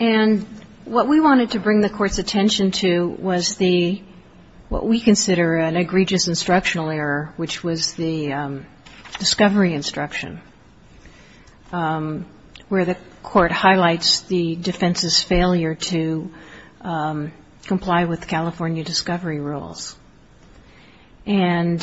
and what we wanted to bring the court's attention to was the, what we consider an egregious instructional error, which was the discovery instruction, where the court highlights the defense's failure to comply with California discovery rules. And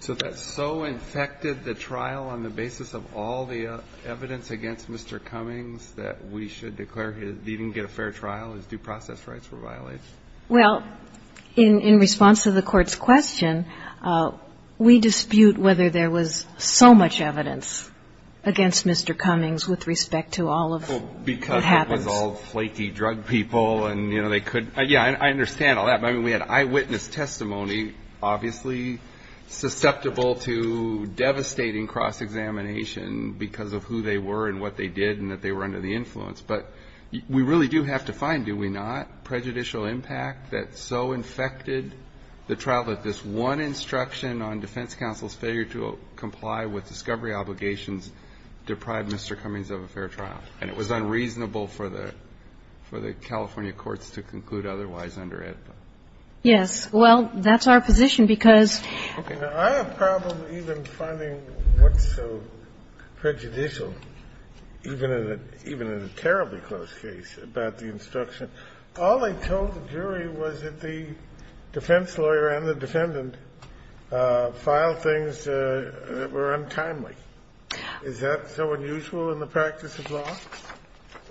so that so infected the trial on the basis of all the evidence against Mr. Cummings that we should declare he didn't get a fair trial, his due process rights were violated? Well, in response to the court's question, we dispute whether there was so much evidence against Mr. Cummings with respect to all of what happens. It was all flaky drug people and, you know, they could, yeah, I understand all that, but I mean, we had eyewitness testimony, obviously susceptible to devastating cross-examination because of who they were and what they did and that they were under the influence. But we really do have to find, do we not, prejudicial impact that so infected the trial that this one instruction on defense counsel's failure to comply with discovery obligations deprived Mr. Cummings of a fair trial? And it was unreasonable for the California courts to conclude otherwise under AEDPA. Yes. Well, that's our position, because we have a problem even finding what's so prejudicial, even in a terribly close case, about the instruction. All they told the jury was that the defense lawyer and the defendant filed things that were untimely. Is that so unusual in the practice of law?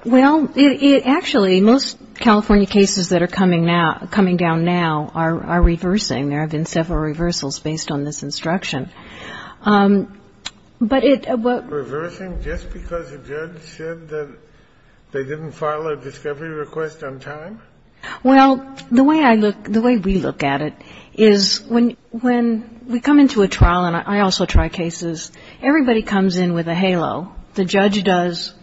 Well, it actually, most California cases that are coming now, coming down now, are reversing. There have been several reversals based on this instruction. But it, what Reversing just because the judge said that they didn't file a discovery request on time? Well, the way I look, the way we look at it is when we come into a trial, and I also try cases, everybody comes in with a halo. The judge does,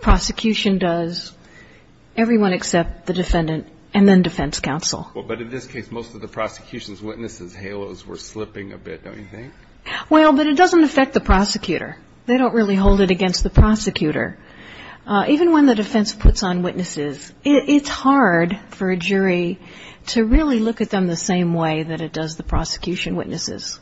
prosecution does, everyone except the defendant, and then defense counsel. Well, but in this case, most of the prosecution's witnesses' halos were slipping a bit, don't you think? Well, but it doesn't affect the prosecutor. They don't really hold it against the prosecutor. Even when the defense puts on witnesses, it's hard for a jury to really look at them the same way that it does the prosecution witnesses.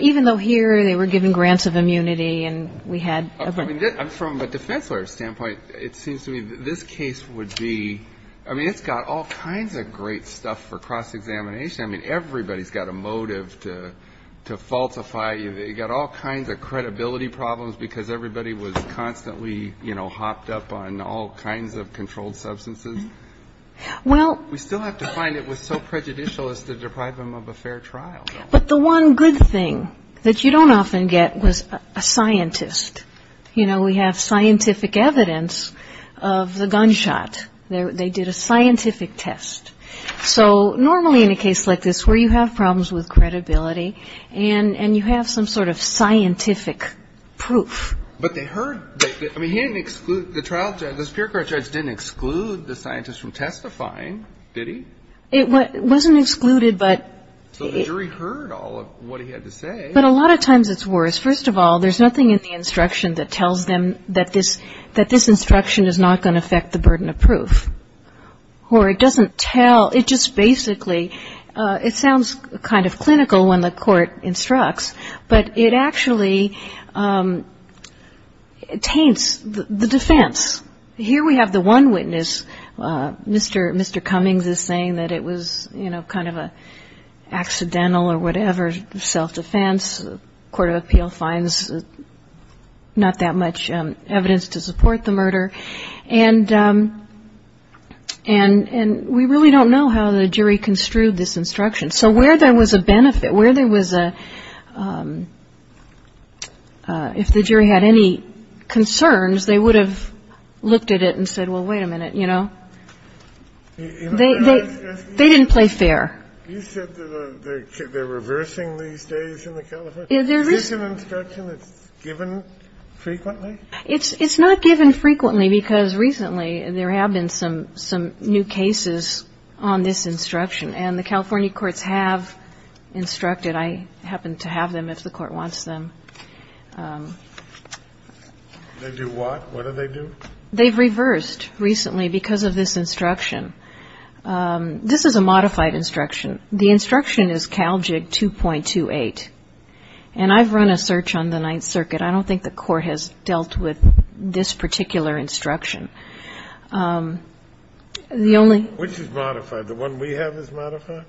Even though here they were given grants of immunity and we had I mean, from a defense lawyer's standpoint, it seems to me that this case would be, I mean, it's got all kinds of great stuff for cross-examination. I mean, everybody's got a motive to to falsify. You've got all kinds of credibility problems because everybody was constantly, you know, hopped up on all kinds of controlled substances. Well, we still have to find it was so prejudicial as to deprive them of a fair trial. But the one good thing that you don't often get was a scientist. You know, we have scientific evidence of the gunshot. They did a scientific test. So normally in a case like this where you have problems with credibility and you have some sort of scientific proof. But they heard, I mean, he didn't exclude, the trial judge, the superior court judge didn't exclude the scientist from testifying, did he? It wasn't excluded but So the jury heard all of what he had to say. But a lot of times it's worse. First of all, there's nothing in the instruction that tells them that this that this instruction is not going to affect the burden of proof or it doesn't tell. It just basically it sounds kind of clinical when the court instructs. But it actually taints the defense. Here we have the one witness, Mr. Mr. Cummings, is saying that it was, you know, kind of a accidental or whatever self-defense. Court of Appeal finds not that much evidence to support the murder. And and we really don't know how the jury construed this instruction. So where there was a benefit, where there was a if the jury had any concerns, they would have looked at it and said, well, wait a minute. You know, they they didn't play fair. You said they're reversing these days in the California. Is this an instruction that's given frequently? It's not given frequently because recently there have been some some new cases on this instruction. And the California courts have instructed. I happen to have them if the court wants them. They do what? What do they do? They've reversed recently because of this instruction. This is a modified instruction. The instruction is Cal Jig 2.28. And I've run a search on the Ninth Circuit. I don't think the court has dealt with this particular instruction. The only which is modified. The one we have is modified?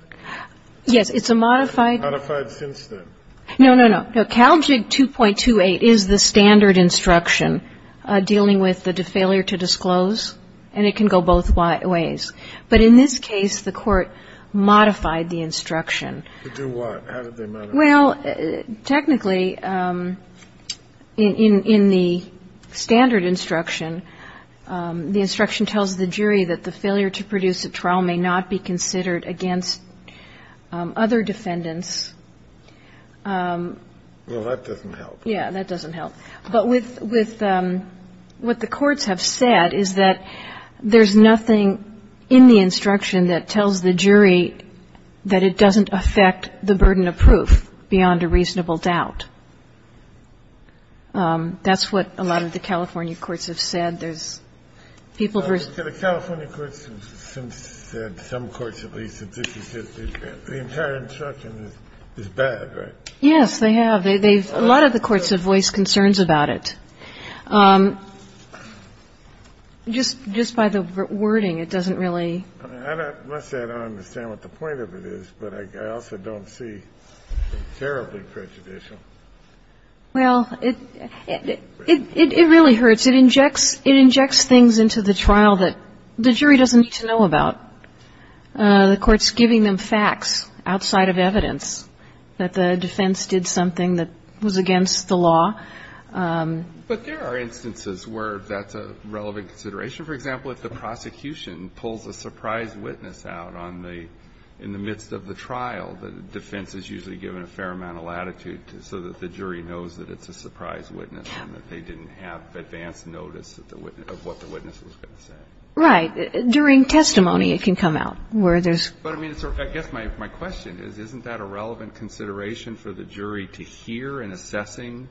Yes, it's a modified. Modified since then. No, no, no. Cal Jig 2.28 is the standard instruction dealing with the failure to disclose. And it can go both ways. But in this case, the court modified the instruction. To do what? How did they modify it? Well, technically, in in the standard instruction, the instruction tells the jury that the failure to produce a trial may not be. Considered against other defendants. Well, that doesn't help. Yeah, that doesn't help. But with with what the courts have said is that there's nothing in the instruction that tells the jury that it doesn't affect the burden of proof beyond a reasonable doubt. That's what a lot of the California courts have said. There's people. The California courts have said, some courts at least, the entire instruction is bad, right? Yes, they have. A lot of the courts have voiced concerns about it. Just just by the wording, it doesn't really. I don't understand what the point of it is, but I also don't see terribly prejudicial. Well, it it really hurts. It injects it injects things into the trial that the jury doesn't need to know about. The court's giving them facts outside of evidence that the defense did something that was against the law. But there are instances where that's a relevant consideration. For example, if the prosecution pulls a surprise witness out on the in the midst of the trial, the defense is usually given a fair amount of latitude so that the jury knows that it's a surprise witness and that they didn't have advanced notice of what the witness was going to say. Right. During testimony, it can come out where there's. But I mean, I guess my question is, isn't that a relevant consideration for the jury to hear in assessing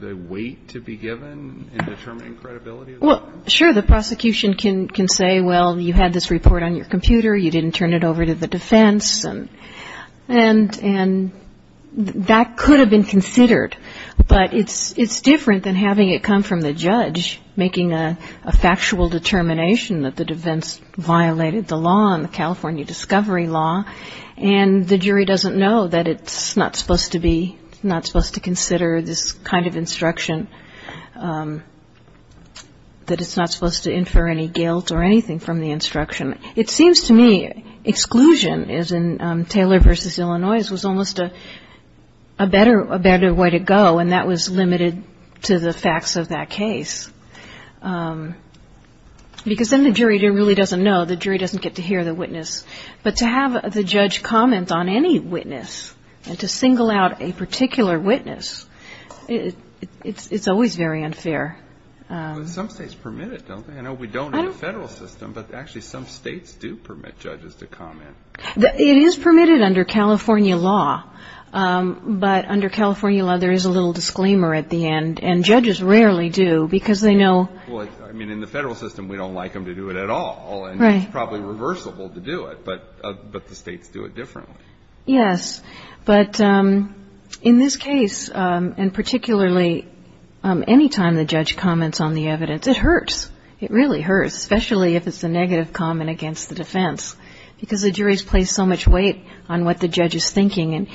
the weight to be given in determining credibility? Well, sure. The prosecution can say, well, you had this report on your computer. You didn't turn it over to the defense. And and that could have been considered. But it's it's different than having it come from the judge making a factual determination that the defense violated the law in the California discovery law. And the jury doesn't know that it's not supposed to be not supposed to consider this kind of instruction that it's not supposed to infer any guilt or anything from the instruction. It seems to me exclusion is in Taylor versus Illinois's was almost a better, a better way to go. And that was limited to the facts of that case. Because then the jury really doesn't know the jury doesn't get to hear the witness. But to have the judge comment on any witness and to single out a particular witness, it's always very unfair. Some states permit it, don't they? I know we don't in the federal system, but actually some states do permit judges to comment. It is permitted under California law, but under California law, there is a little disclaimer at the end. And judges rarely do because they know. Well, I mean, in the federal system, we don't like them to do it at all. And it's probably reversible to do it. But but the states do it differently. Yes. But in this case, and particularly anytime the judge comments on the evidence, it hurts. It really hurts, especially if it's a negative comment against the defense. Because the jury's placed so much weight on what the judge is thinking. And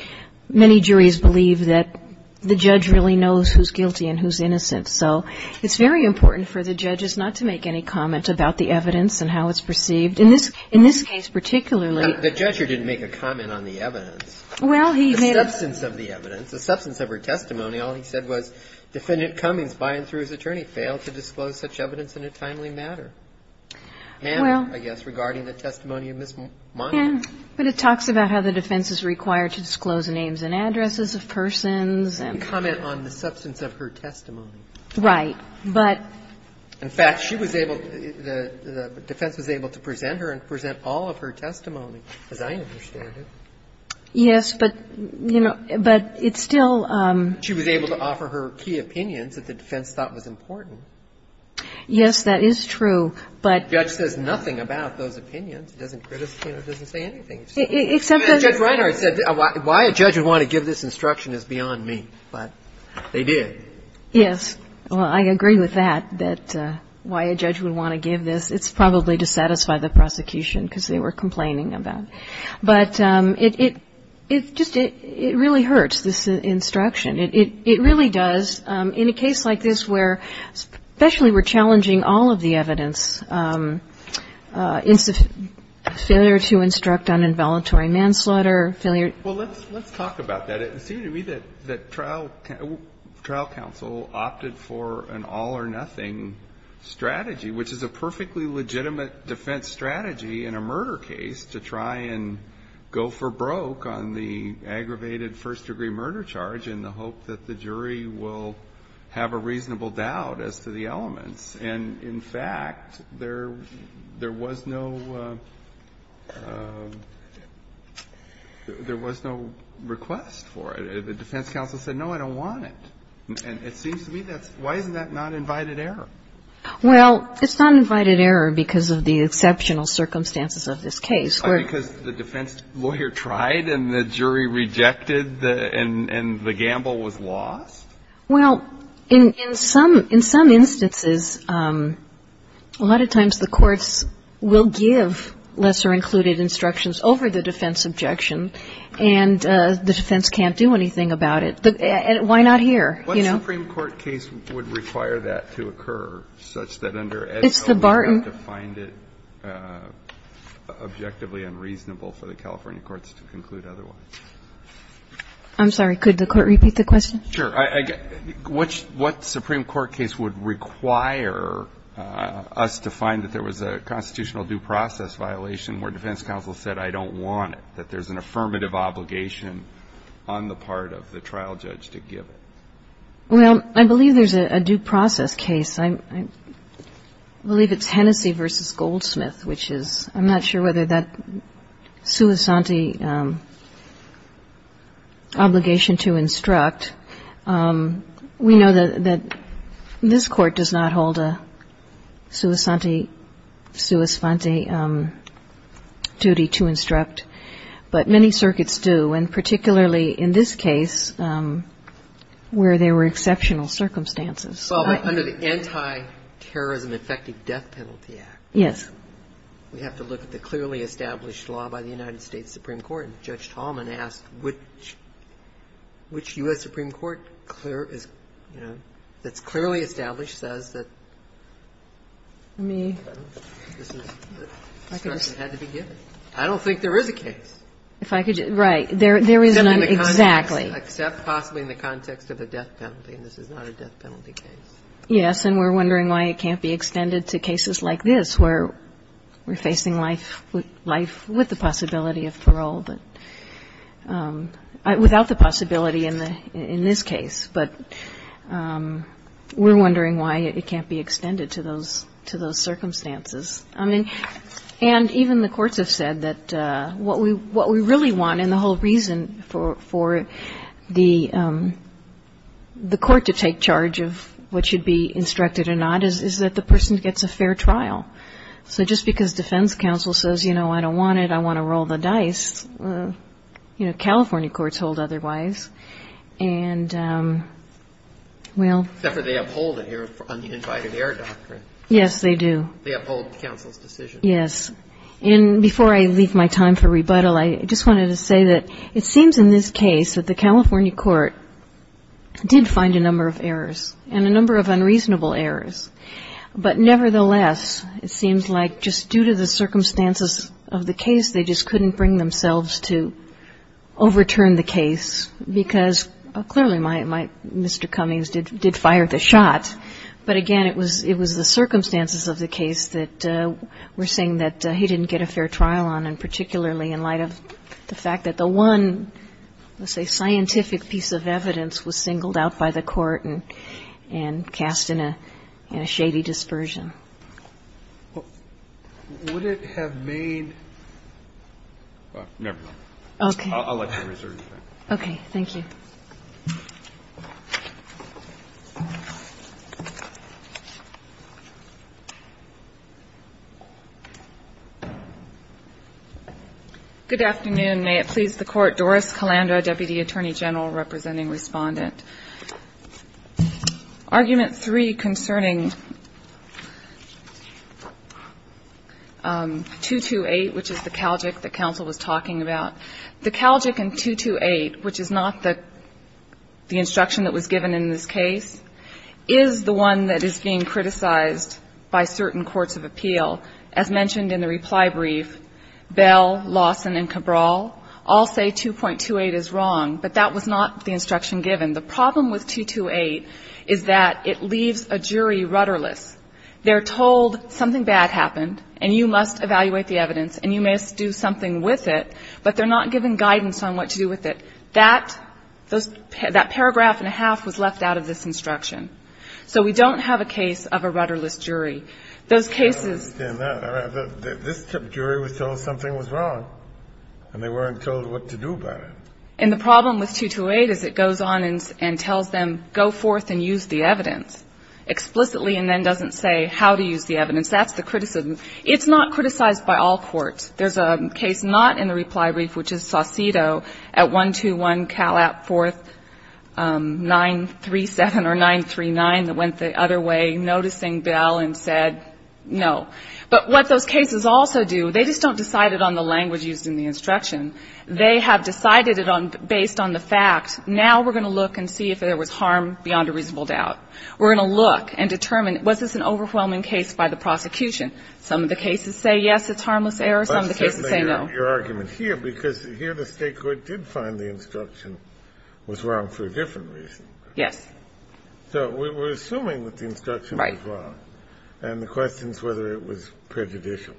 many juries believe that the judge really knows who's guilty and who's innocent. So it's very important for the judges not to make any comment about the evidence and how it's perceived. In this in this case, particularly. The judge didn't make a comment on the evidence. Well, he made. The substance of the evidence, the substance of her testimony. All he said was Defendant Cummings, by and through his attorney, failed to disclose such evidence in a timely manner. And I guess regarding the testimony of Ms. Minor. But it talks about how the defense is required to disclose names and addresses of persons and. Comment on the substance of her testimony. Right. But. In fact, she was able, the defense was able to present her and present all of her testimony, as I understand it. Yes, but, you know, but it's still. She was able to offer her key opinions that the defense thought was important. Yes, that is true. But. The judge says nothing about those opinions. He doesn't criticize, he doesn't say anything. Except that. Judge Reinhardt said why a judge would want to give this instruction is beyond me. But they did. Yes. Well, I agree with that, that why a judge would want to give this. It's probably to satisfy the prosecution because they were complaining about. But it's just, it really hurts, this instruction. It really does. In a case like this where, especially we're challenging all of the evidence. Failure to instruct on involuntary manslaughter. Well, let's talk about that. It seemed to me that trial counsel opted for an all or nothing strategy, which is a perfectly legitimate defense strategy in a murder case to try and go for broke on the aggravated first degree murder charge in the hope that the jury will have a reasonable doubt as to the elements. And, in fact, there was no, there was no request for it. The defense counsel said, no, I don't want it. And it seems to me that's, why isn't that not invited error? Well, it's not invited error because of the exceptional circumstances of this case. Because the defense lawyer tried and the jury rejected and the gamble was lost? Well, in some instances, a lot of times the courts will give lesser included instructions over the defense objection and the defense can't do anything about it. Why not here? What Supreme Court case would require that to occur such that under EDSA we have to find it objectively unreasonable for the California courts to conclude otherwise? I'm sorry. Could the Court repeat the question? Sure. What Supreme Court case would require us to find that there was a constitutional due process violation where defense counsel said, I don't want it? That there's an affirmative obligation on the part of the trial judge to give it? Well, I believe there's a due process case. I believe it's Hennessy v. Goldsmith, which is, I'm not sure whether that sui sante obligation to instruct. We know that this Court does not hold a sui sante duty to instruct, but many circuits do. And particularly in this case, where there were exceptional circumstances. Under the Anti-Terrorism Effective Death Penalty Act. Yes. We have to look at the clearly established law by the United States Supreme Court. And Judge Tallman asked which U.S. Supreme Court that's clearly established says that instruction had to be given. I don't think there is a case. If I could, right. There is an, exactly. Except possibly in the context of a death penalty. And this is not a death penalty case. Yes. And we're wondering why it can't be extended to cases like this, where we're facing life with the possibility of parole. But without the possibility in this case. But we're wondering why it can't be extended to those circumstances. I mean, and even the courts have said that what we really want and the whole reason for the court to take charge of what should be instructed or not is that the person gets a fair trial. So just because defense counsel says, you know, I don't want it. I want to roll the dice. You know, California courts hold otherwise. And well. Except for they uphold the uninvited error doctrine. Yes, they do. They uphold counsel's decision. Yes. And before I leave my time for rebuttal, I just wanted to say that it seems in this case that the California court did find a number of errors and a number of unreasonable errors. But nevertheless, it seems like just due to the circumstances of the case, they just couldn't bring themselves to overturn the case. Because clearly my Mr. Cummings did fire the shot. But again, it was the circumstances of the case that we're saying that he didn't get a fair trial on. And particularly in light of the fact that the one, let's say, scientific piece of evidence was singled out by the court and cast in a shady dispersion. Would it have made? Never mind. Okay. I'll let you reserve your time. Okay. Thank you. Good afternoon. May it please the Court. Doris Calandra, Deputy Attorney General, representing Respondent. Argument 3 concerning 228, which is the Calgic that counsel was talking about. The Calgic in 228, which is not the instruction that was given in this case, is the one that is being criticized by certain courts of appeal. As mentioned in the reply brief, Bell, Lawson, and Cabral all say 2.28 is wrong, but that was not the instruction given. The problem with 228 is that it leaves a jury rudderless. They're told something bad happened, and you must evaluate the evidence, and you must do something with it, but they're not given guidance on what to do with it. That paragraph and a half was left out of this instruction. So we don't have a case of a rudderless jury. Those cases ---- I don't understand that. This jury was told something was wrong, and they weren't told what to do about it. And the problem with 228 is it goes on and tells them, go forth and use the evidence, explicitly, and then doesn't say how to use the evidence. That's the criticism. It's not criticized by all courts. There's a case not in the reply brief, which is Saucedo at 121 Calat 4th 937 or 939 that went the other way, noticing Bell and said no. But what those cases also do, they just don't decide it on the language used in the instruction. They have decided it based on the fact, now we're going to look and see if there was harm beyond a reasonable doubt. We're going to look and determine, was this an overwhelming case by the prosecution? Some of the cases say yes, it's harmless error. Some of the cases say no. Kennedy, your argument here, because here the State court did find the instruction was wrong for a different reason. Yes. So we're assuming that the instruction was wrong. Right. And the question is whether it was prejudicial.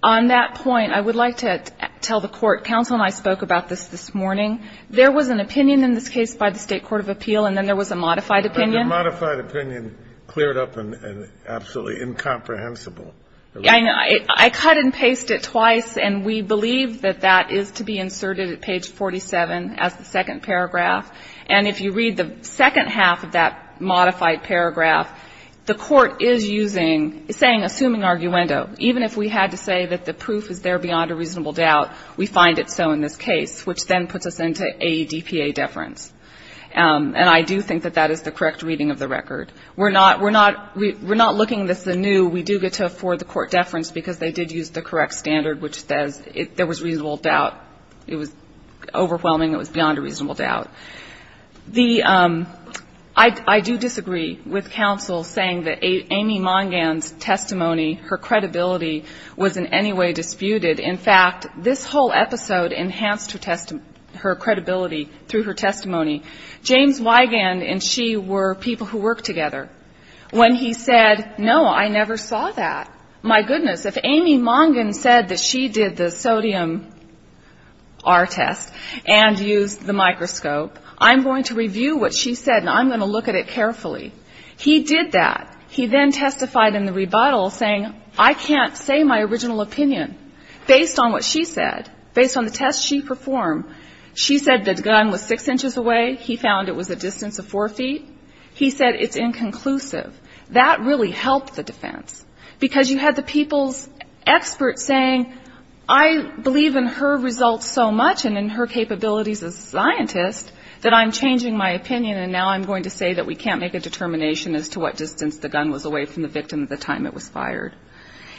On that point, I would like to tell the Court, counsel and I spoke about this this morning. There was an opinion in this case by the State court of appeal, and then there was a modified opinion. But the modified opinion cleared up an absolutely incomprehensible reason. I cut and pasted it twice, and we believe that that is to be inserted at page 47 as the second paragraph. And if you read the second half of that modified paragraph, the Court is using saying, assuming arguendo, even if we had to say that the proof is there beyond a reasonable doubt, we find it so in this case, which then puts us into a DPA deference. And I do think that that is the correct reading of the record. We're not looking this anew. We do get to afford the court deference because they did use the correct standard, which says there was reasonable doubt. It was overwhelming. It was beyond a reasonable doubt. The ‑‑ I do disagree with counsel saying that Amy Mongan's testimony, her credibility was in any way disputed. In fact, this whole episode enhanced her credibility through her testimony. James Weigand and she were people who worked together. When he said, no, I never saw that, my goodness, if Amy Mongan said that she did the review what she said and I'm going to look at it carefully, he did that. He then testified in the rebuttal saying, I can't say my original opinion based on what she said, based on the test she performed. She said the gun was six inches away. He found it was a distance of four feet. He said it's inconclusive. That really helped the defense. Because you had the people's experts saying, I believe in her results so much and in her testimony, that I'm changing my opinion and now I'm going to say that we can't make a determination as to what distance the gun was away from the victim at the time it was fired.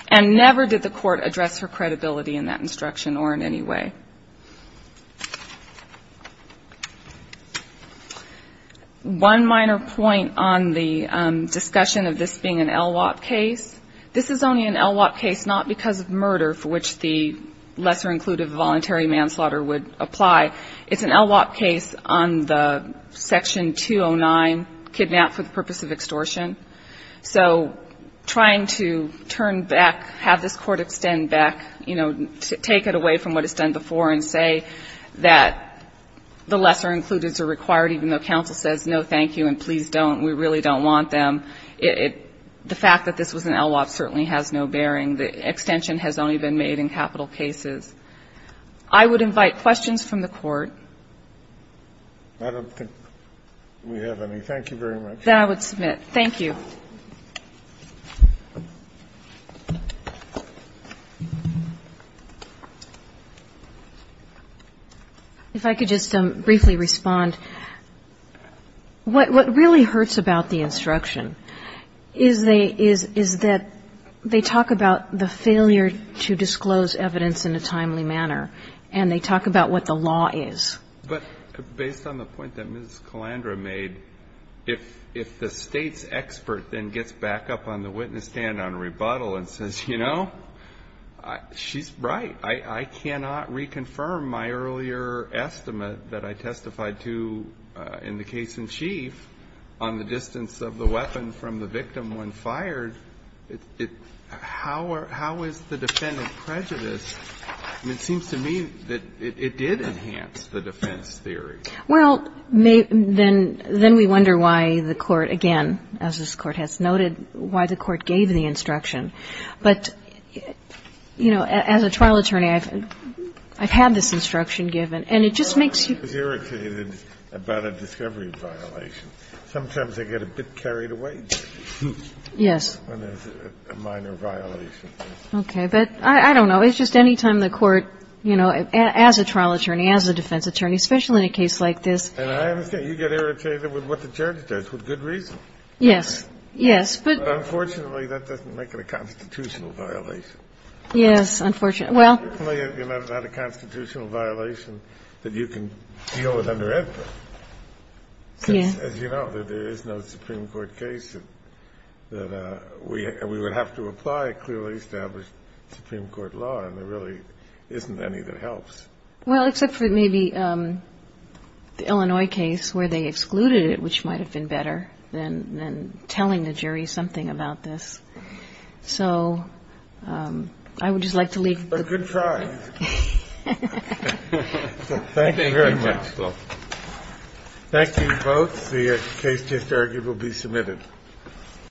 And never did the court address her credibility in that instruction or in any way. One minor point on the discussion of this being an LWOP case, this is only an LWOP case not because of murder for which the lesser‑inclusive voluntary manslaughter would apply. It's an LWOP case on the section 209, kidnap for the purpose of extortion. So trying to turn back, have this court extend back, you know, take it away from what it's done before and say that the lesser‑includes are required, even though counsel says no, thank you, and please don't, we really don't want them, the fact that this was an LWOP certainly has no bearing, the extension has only been made in capital cases. I would invite questions from the court. I don't think we have any. Thank you very much. Then I would submit. Thank you. If I could just briefly respond, what really hurts about the instruction is that they talk about the failure to disclose evidence in a timely manner, and they talk about what the law is. But based on the point that Ms. Calandra made, if the State's expert then gets back up on the witness stand on rebuttal and says, you know, she's right, I cannot reconfirm my earlier estimate that I testified to in the case in chief on the distance of the weapon from the victim when fired, how is the defendant prejudiced? I mean, it seems to me that it did enhance the defense theory. Well, then we wonder why the court, again, as this court has noted, why the court gave the instruction. But, you know, as a trial attorney, I've had this instruction given, and it just makes you ‑‑ I was irritated about a discovery violation. Sometimes they get a bit carried away. Yes. When there's a minor violation. Okay. But I don't know. It's just any time the court, you know, as a trial attorney, as a defense attorney, especially in a case like this. And I understand. You get irritated with what the judge does with good reason. Yes. Yes. But unfortunately, that doesn't make it a constitutional violation. Yes. Unfortunately. Well ‑‑ I don't think you can deal with under-input. Yes. As you know, there is no Supreme Court case that we would have to apply a clearly established Supreme Court law. And there really isn't any that helps. Well, except for maybe the Illinois case where they excluded it, which might have been better than telling the jury something about this. So I would just like to leave ‑‑ A good try. Thank you very much. Thank you both. The case just argued will be submitted.